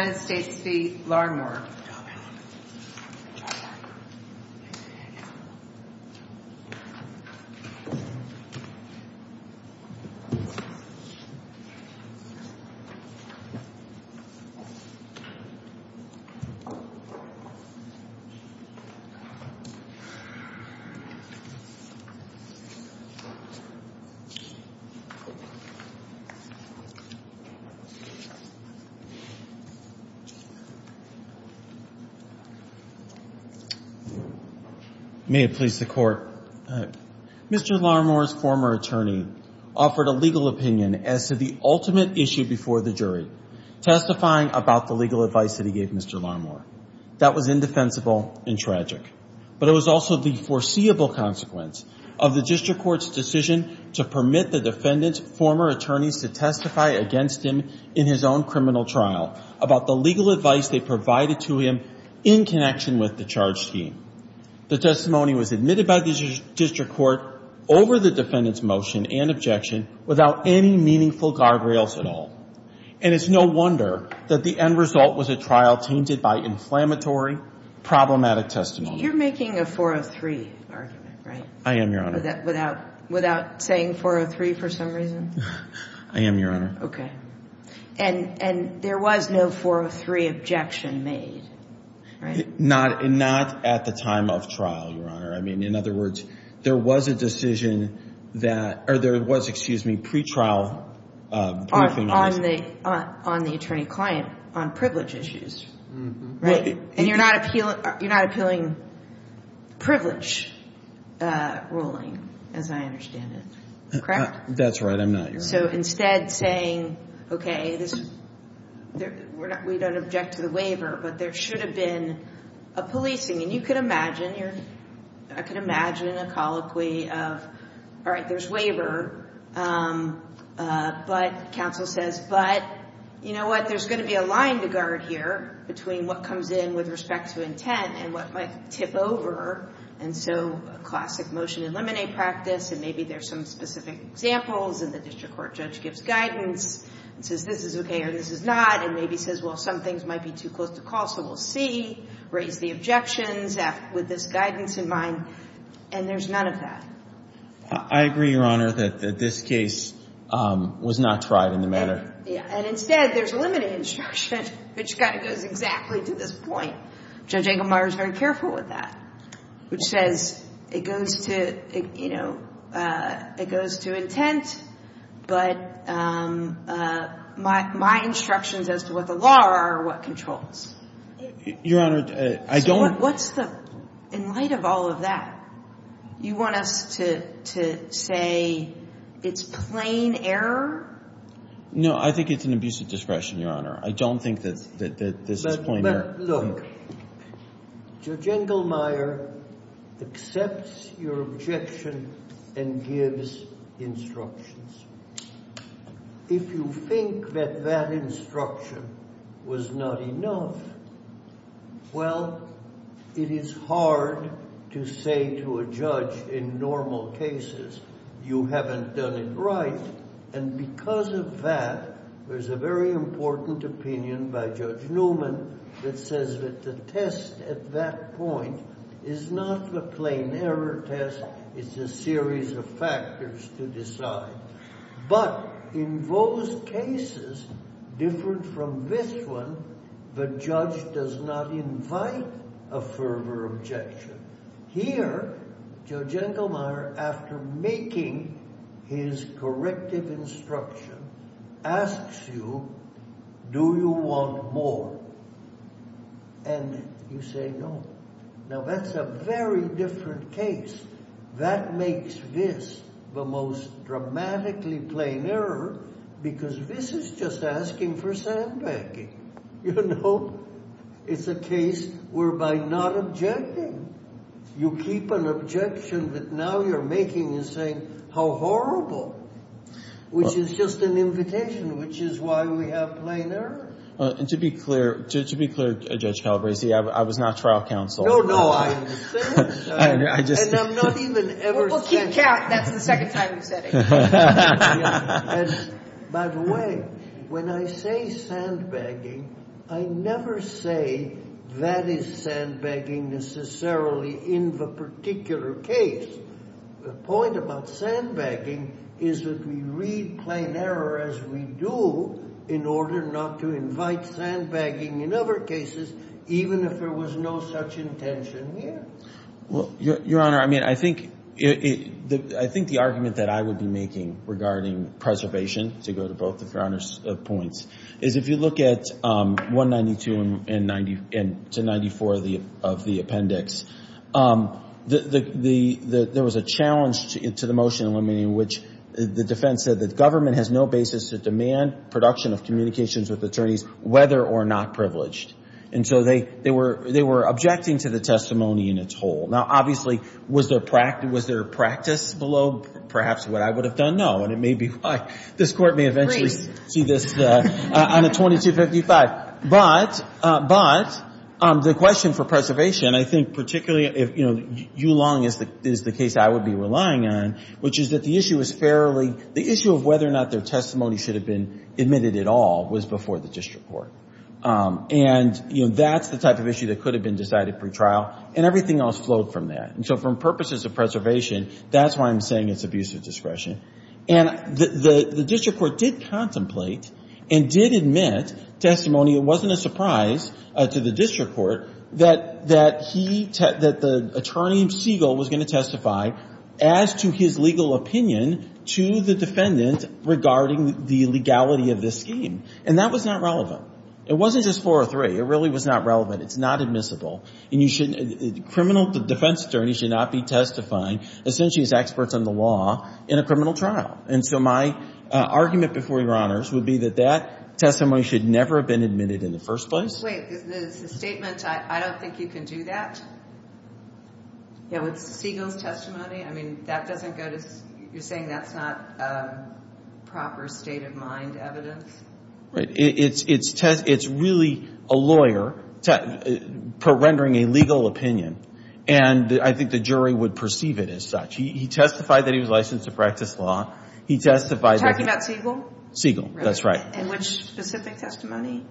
All right, here we go. May it please the court, Mr. Larmore's former attorney offered a legal opinion as to the ultimate issue before the jury, testifying about the legal advice that he gave Mr. Larmore. That was indefensible and tragic, but it was also the foreseeable consequence of the district court's decision to permit the defendant's former attorneys to testify against him in his own criminal trial about the legal advice they provided to him in connection with the charge scheme. The testimony was admitted by the district court over the defendant's motion and objection without any meaningful guardrails at all, and it's no wonder that the end result was a trial tainted by inflammatory, problematic testimony. You're making a 403 argument, right? I am, Your Honor. Without saying 403 for some reason? I am, Your Honor. Okay. And there was no 403 objection made, right? Not at the time of trial, Your Honor. I mean, in other words, there was a decision that, or there was, excuse me, pre-trial briefing on this. On the attorney-client on privilege issues, right? And you're not appealing privilege ruling, as I understand it, correct? That's right, I'm not, Your Honor. And so instead saying, okay, we don't object to the waiver, but there should have been a policing. And you could imagine, I could imagine a colloquy of, all right, there's waiver, but counsel says, but you know what, there's going to be a line to guard here between what comes in with respect to intent and what might tip over. And so a classic motion to eliminate practice, and maybe there's some specific examples in the district court, judge gives guidance and says, this is okay or this is not, and maybe says, well, some things might be too close to call, so we'll see, raise the objections with this guidance in mind. And there's none of that. I agree, Your Honor, that this case was not tried in the manner. Yeah. And instead, there's limited instruction, which kind of goes exactly to this point. Judge Engelmeyer is very careful with that, which says it goes to, you know, it goes to intent, but my instructions as to what the law are are what controls. Your Honor, I don't. So what's the, in light of all of that, you want us to say it's plain error? No, I think it's an abuse of discretion, Your Honor. I don't think that this is plain error. But look, Judge Engelmeyer accepts your objection and gives instructions. If you think that that instruction was not enough, well, it is hard to say to a judge in normal cases, you haven't done it right, and because of that, there's a very important opinion by Judge Newman that says that the test at that point is not the plain error test. It's a series of factors to decide. But in those cases, different from this one, the judge does not invite a further objection. Here, Judge Engelmeyer, after making his corrective instruction, asks you, do you want more? And you say no. Now that's a very different case. That makes this the most dramatically plain error, because this is just asking for sandbagging. You know? It's a case whereby not objecting, you keep an objection that now you're making and saying, how horrible, which is just an invitation, which is why we have plain error. And to be clear, Judge Calabresi, I was not trial counsel. No, no, I understand. And I'm not even ever saying that. Well, keep count. That's the second time you've said it. By the way, when I say sandbagging, I never say that is sandbagging necessarily in the particular case. The point about sandbagging is that we read plain error as we do in order not to invite sandbagging in other cases, even if there was no such intention here. Well, Your Honor, I mean, I think the argument that I would be making regarding preservation, to go to both of Your Honor's points, is if you look at 192 to 94 of the appendix, there was a challenge to the motion in which the defense said that government has no basis to demand production of communications with attorneys, whether or not privileged. And so they were objecting to the testimony in its whole. Now, obviously, was their practice below perhaps what I would have done? No. And it may be why this Court may eventually see this on a 2255. But the question for preservation, I think particularly if Yu Long is the case I would be relying on, which is that the issue is fairly, the issue of whether or not their testimony should have been admitted at all was before the district court. And, you know, that's the type of issue that could have been decided pre-trial. And everything else flowed from that. And so for purposes of preservation, that's why I'm saying it's abuse of discretion. And the district court did contemplate and did admit testimony. It wasn't a surprise to the district court that he, that the attorney Siegel was going to testify as to his legal opinion to the defendant regarding the legality of this scheme. And that was not relevant. It wasn't just four or three. It really was not relevant. It's not admissible. And you shouldn't, a criminal defense attorney should not be testifying essentially as experts on the law in a criminal trial. And so my argument before Your Honors would be that that testimony should never have been admitted in the first place. Wait, the statement, I don't think you can do that? Yeah, with Siegel's testimony? I mean, that doesn't go to, you're saying that's not proper state of mind evidence? It's really a lawyer rendering a legal opinion. And I think the jury would perceive it as such. He testified that he was licensed to practice law. He testified that- You're talking about Siegel? Siegel, that's right. And which specific testimony?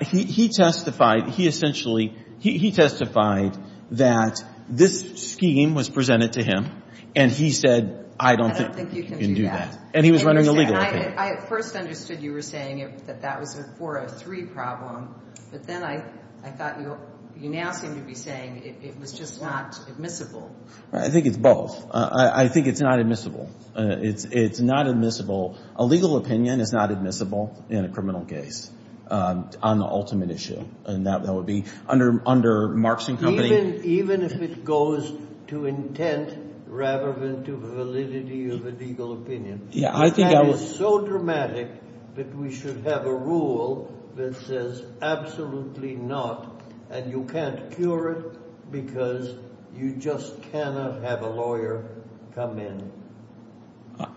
He testified, he essentially, he testified that this scheme was presented to him. And he said, I don't think you can do that. And he was rendering a legal opinion. I first understood you were saying that that was a 403 problem. But then I thought you now seem to be saying it was just not admissible. I think it's both. I think it's not admissible. It's not admissible. A legal opinion is not admissible in a criminal case on the ultimate issue. And that would be under Marx and Company. Even if it goes to intent rather than to validity of a legal opinion. That is so dramatic that we should have a rule that says absolutely not. And you can't cure it because you just cannot have a lawyer come in.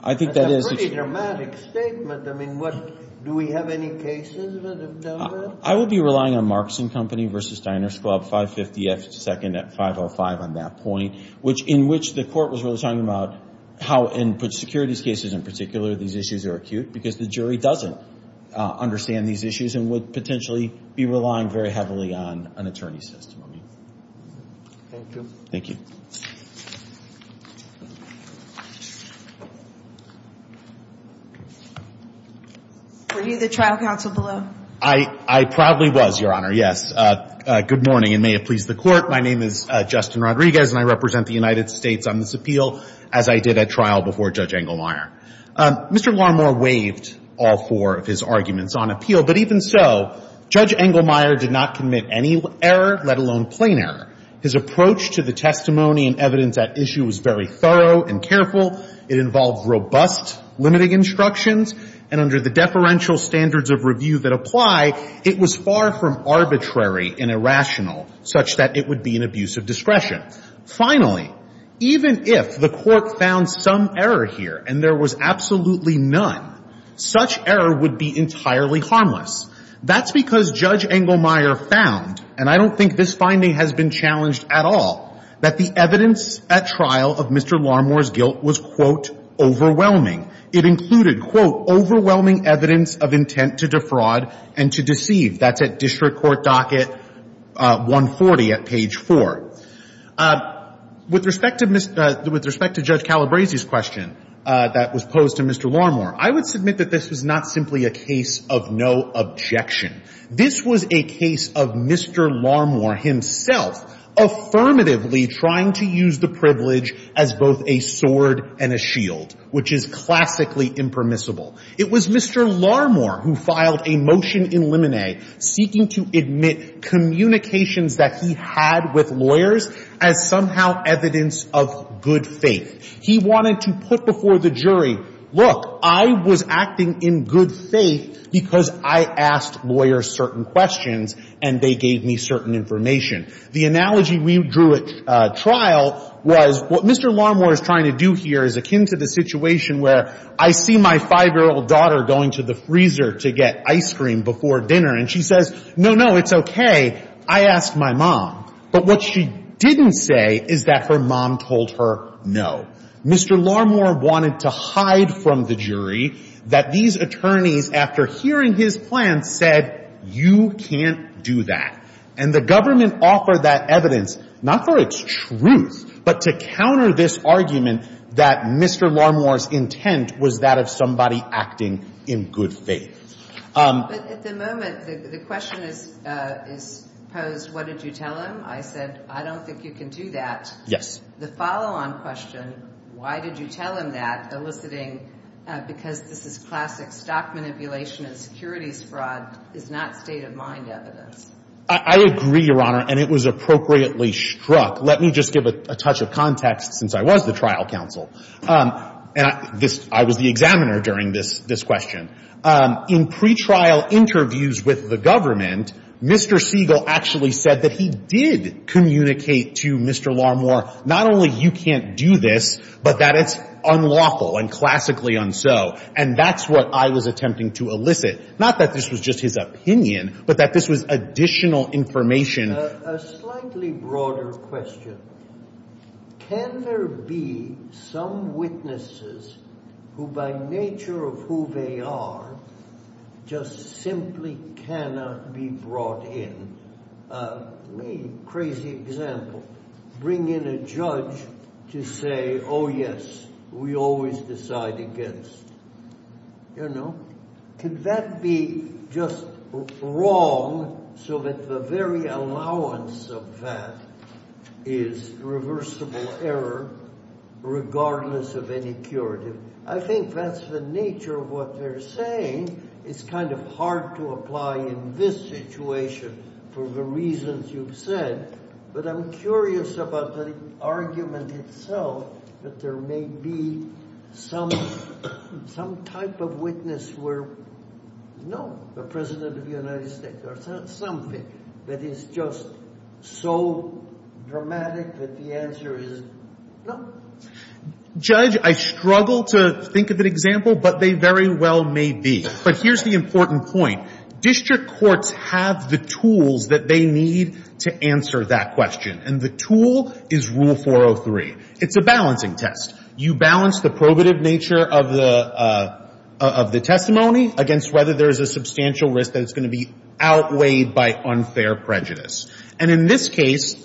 I think that is- That's a pretty dramatic statement. I mean, what, do we have any cases that have done that? I would be relying on Marx and Company versus Steiner's Club, 552nd at 505 on that point, which in which the court was really talking about how in securities cases in particular, these issues are acute. Because the jury doesn't understand these issues and would potentially be relying very heavily on an attorney's testimony. Thank you. Thank you. Were you the trial counsel below? I probably was, Your Honor. Yes. Good morning, and may it please the court. My name is Justin Rodriguez, and I represent the United States on this appeal, as I did at trial before Judge Engelmeyer. Mr. Larmore waived all four of his arguments on appeal. But even so, Judge Engelmeyer did not commit any error, let alone plain error. His approach to the testimony and evidence at issue was very thorough and careful. It involved robust limiting instructions. And under the deferential standards of review that apply, it was far from arbitrary and irrational such that it would be an abuse of discretion. Finally, even if the court found some error here and there was absolutely none, such error would be entirely harmless. That's because Judge Engelmeyer found, and I don't think this finding has been challenged at all, that the evidence at trial of Mr. Larmore's guilt was, quote, overwhelming. It included, quote, overwhelming evidence of intent to defraud and to deceive. That's at District Court docket 140 at page 4. With respect to Judge Calabresi's question that was posed to Mr. Larmore, I would submit that this was not simply a case of no objection. This was a case of Mr. Larmore himself affirmatively trying to use the privilege as both a sword and a shield, which is classically impermissible. It was Mr. Larmore who filed a motion in limine seeking to admit communications that he had with lawyers as somehow evidence of good faith. He wanted to put before the jury, look, I was acting in good faith because I asked lawyers certain questions and they gave me certain information. The analogy we drew at trial was what Mr. Larmore is trying to do here is akin to the situation where I see my five-year-old daughter going to the freezer to get ice cream before dinner and she says, no, no, it's OK. I asked my mom. But what she didn't say is that her mom told her no. Mr. Larmore wanted to hide from the jury that these attorneys, after hearing his plan, said, you can't do that. And the government offered that evidence, not for its truth, but to counter this argument that Mr. Larmore's intent was that of somebody acting in good faith. But at the moment, the question is posed, what did you tell him? I said, I don't think you can do that. Yes. The follow-on question, why did you tell him that, eliciting, because this is classic stock manipulation and securities fraud, is not state-of-mind evidence. I agree, Your Honor, and it was appropriately struck. Let me just give a touch of context, since I was the trial counsel. And I was the examiner during this question. In pre-trial interviews with the government, Mr. Siegel actually said that he did communicate to Mr. Larmore, not only you can't do this, but that it's unlawful and classically unso. And that's what I was attempting to elicit. Not that this was just his opinion, but that this was additional information. A slightly broader question. Can there be some witnesses who, by nature of who they are, just simply cannot be brought in? Me, crazy example. Bring in a judge to say, oh yes, we always decide against. You know? Could that be just wrong, so that the very allowance of that is reversible error, regardless of any curative? I think that's the nature of what they're saying. It's kind of hard to apply in this situation for the reasons you've said. But I'm curious about the argument itself, that there may be some type of witness where, no, the President of the United States, or something that is just so dramatic that the answer is no. Judge, I struggle to think of an example, but they very well may be. But here's the important point. District courts have the tools that they need to answer that question. And the tool is Rule 403. It's a balancing test. You balance the probative nature of the testimony against whether there is a substantial risk that it's going to be outweighed by unfair prejudice. And in this case,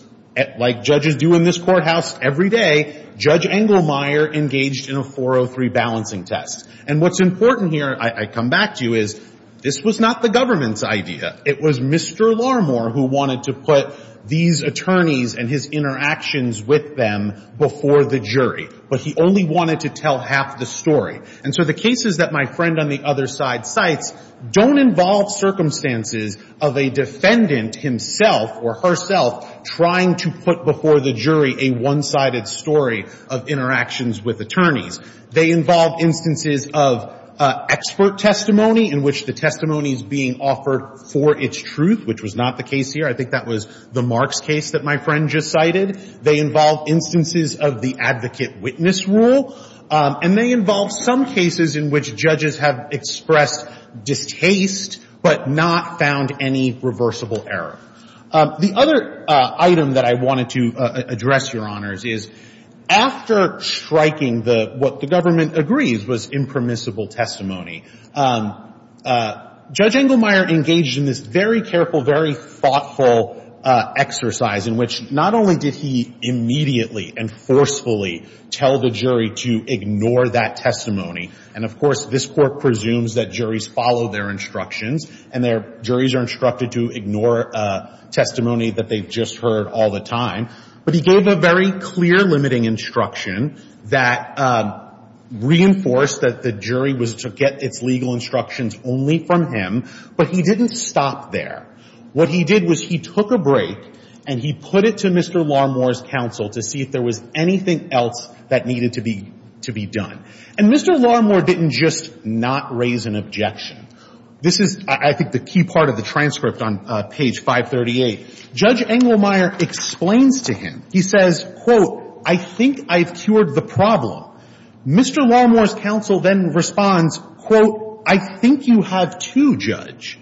like judges do in this courthouse every day, Judge Engelmeyer engaged in a 403 balancing test. And what's important here, I come back to you, is this was not the government's idea. It was Mr. Larmore who wanted to put these attorneys and his interactions with them before the jury. But he only wanted to tell half the story. And so the cases that my friend on the other side cites don't involve circumstances of a defendant himself or herself trying to put before the jury a one-sided story of interactions with attorneys. They involve instances of expert testimony in which the testimony is being offered for its truth, which was not the case here. I think that was the Marks case that my friend just cited. They involve instances of the advocate witness rule. And they involve some cases in which judges have expressed distaste but not found any reversible error. The other item that I wanted to address, Your Honors, is after striking what the government agrees was impermissible testimony, Judge Engelmeyer engaged in this very careful, very thoughtful exercise in which not only did he immediately and forcefully tell the jury to ignore that testimony. And of course, this court presumes that juries follow their instructions. And their juries are instructed to ignore testimony that they've just heard all the time. But he gave a very clear limiting instruction that reinforced that the jury was to get its legal instructions only from him. But he didn't stop there. What he did was he took a break, and he put it to Mr. Larmore's counsel to see if there was anything else that needed to be done. And Mr. Larmore didn't just not raise an objection. This is, I think, the key part of the transcript on page 538. Judge Engelmeyer explains to him. He says, quote, I think I've cured the problem. Mr. Larmore's counsel then responds, quote, I think you have too, Judge.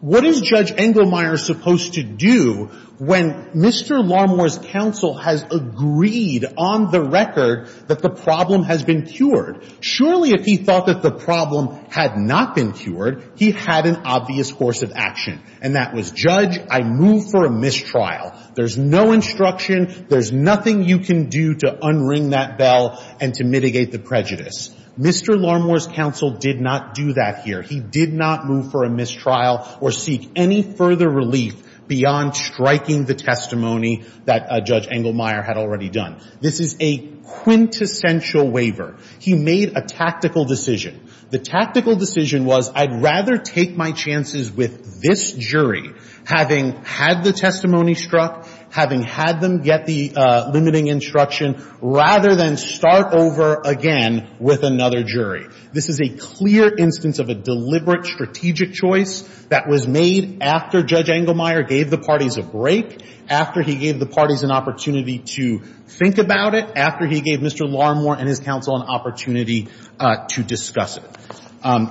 What is Judge Engelmeyer supposed to do when Mr. Larmore's counsel has agreed on the record that the problem has been cured? Surely, if he thought that the problem had not been cured, he had an obvious course of action. And that was, Judge, I move for a mistrial. There's no instruction. There's nothing you can do to unring that bell and to mitigate the prejudice. Mr. Larmore's counsel did not do that here. He did not move for a mistrial or seek any further relief beyond striking the testimony that Judge Engelmeyer had already done. This is a quintessential waiver. He made a tactical decision. The tactical decision was, I'd rather take my chances with this jury, having had the testimony struck, having had them get the limiting instruction, rather than start over again with another jury. This is a clear instance of a deliberate strategic choice that was made after Judge Engelmeyer gave the parties a break, after he gave the parties an opportunity to think about it, after he gave Mr. Larmore and his counsel an opportunity to discuss it.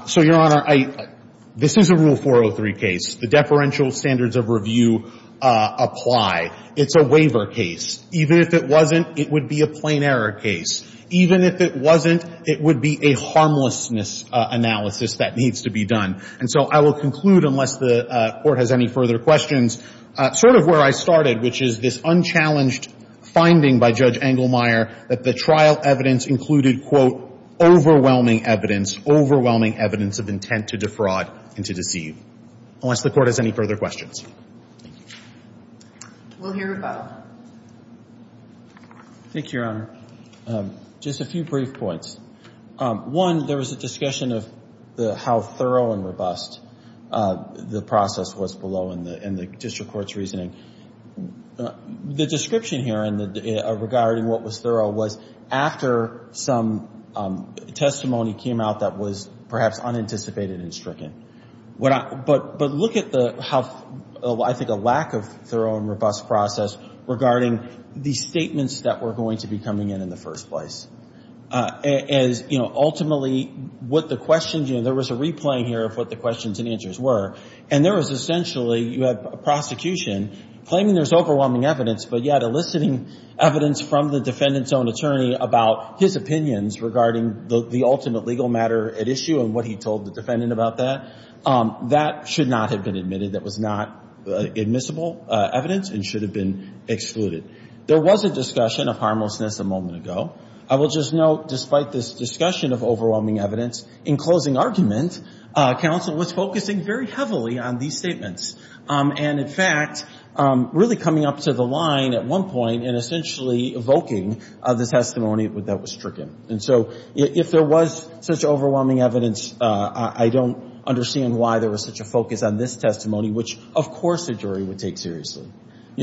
So, Your Honor, this is a Rule 403 case. The deferential standards of review apply. It's a waiver case. Even if it wasn't, it would be a plain error case. Even if it wasn't, it would be a harmlessness analysis that needs to be done. And so I will conclude, unless the Court has any further questions, sort of where I started, which is this unchallenged finding by Judge Engelmeyer that the trial evidence included, quote, overwhelming evidence, overwhelming evidence of intent to defraud and to deceive, unless the Court has any further questions. Thank you. We'll hear from Bob. Thank you, Your Honor. Just a few brief points. One, there was a discussion of how thorough and robust the process was below in the district court's reasoning. The description here regarding what was thorough was after some testimony came out that was perhaps unanticipated and stricken. But look at the how, I think, a lack of thorough and robust process regarding the statements that were going to be coming in in the first place. Ultimately, what the questions, there was a replaying here of what the questions and answers were. And there was essentially, you had a prosecution claiming there's overwhelming evidence, but yet eliciting evidence from the defendant's own attorney about his opinions regarding the ultimate legal matter at issue and what he told the defendant about that. That should not have been admitted. That was not admissible evidence and should have been excluded. There was a discussion of harmlessness a moment ago. I will just note, despite this discussion of overwhelming evidence, in closing argument, counsel was focusing very heavily on these statements. And in fact, really coming up to the line at one point and essentially evoking the testimony that was stricken. And so if there was such overwhelming evidence, I don't understand why there was such a focus on this testimony, which, of course, a jury would take seriously.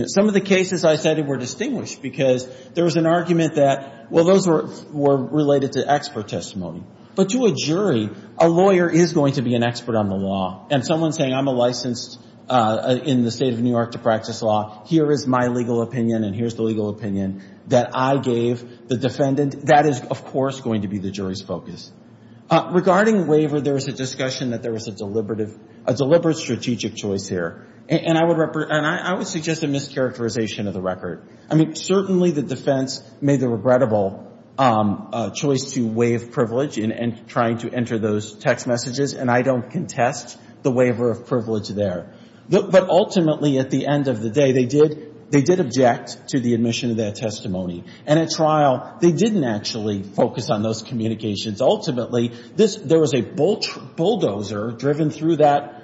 Some of the cases I cited were distinguished because there was an argument that, well, those were related to expert testimony. But to a jury, a lawyer is going to be an expert on the law. And someone saying, I'm a licensed in the state of New York to practice law, here is my legal opinion and here's the legal opinion that I gave the defendant, that is, of course, going to be the jury's focus. Regarding waiver, there was a discussion that there was a deliberate strategic choice here. And I would suggest a mischaracterization of the record. I mean, certainly the defense made the regrettable choice to waive privilege in trying to enter those text messages. And I don't contest the waiver of privilege there. But ultimately, at the end of the day, they did object to the admission of that testimony. And at trial, they didn't actually focus on those communications. Ultimately, there was a bulldozer driven through that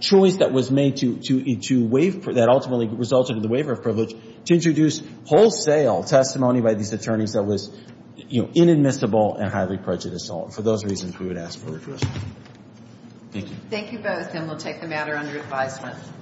choice that was made to waive, that ultimately resulted in the waiver of privilege, to introduce wholesale testimony by these attorneys that was inadmissible and highly prejudicial. For those reasons, we would ask for redressal. Thank you. Thank you both. And we'll take the matter under advisement.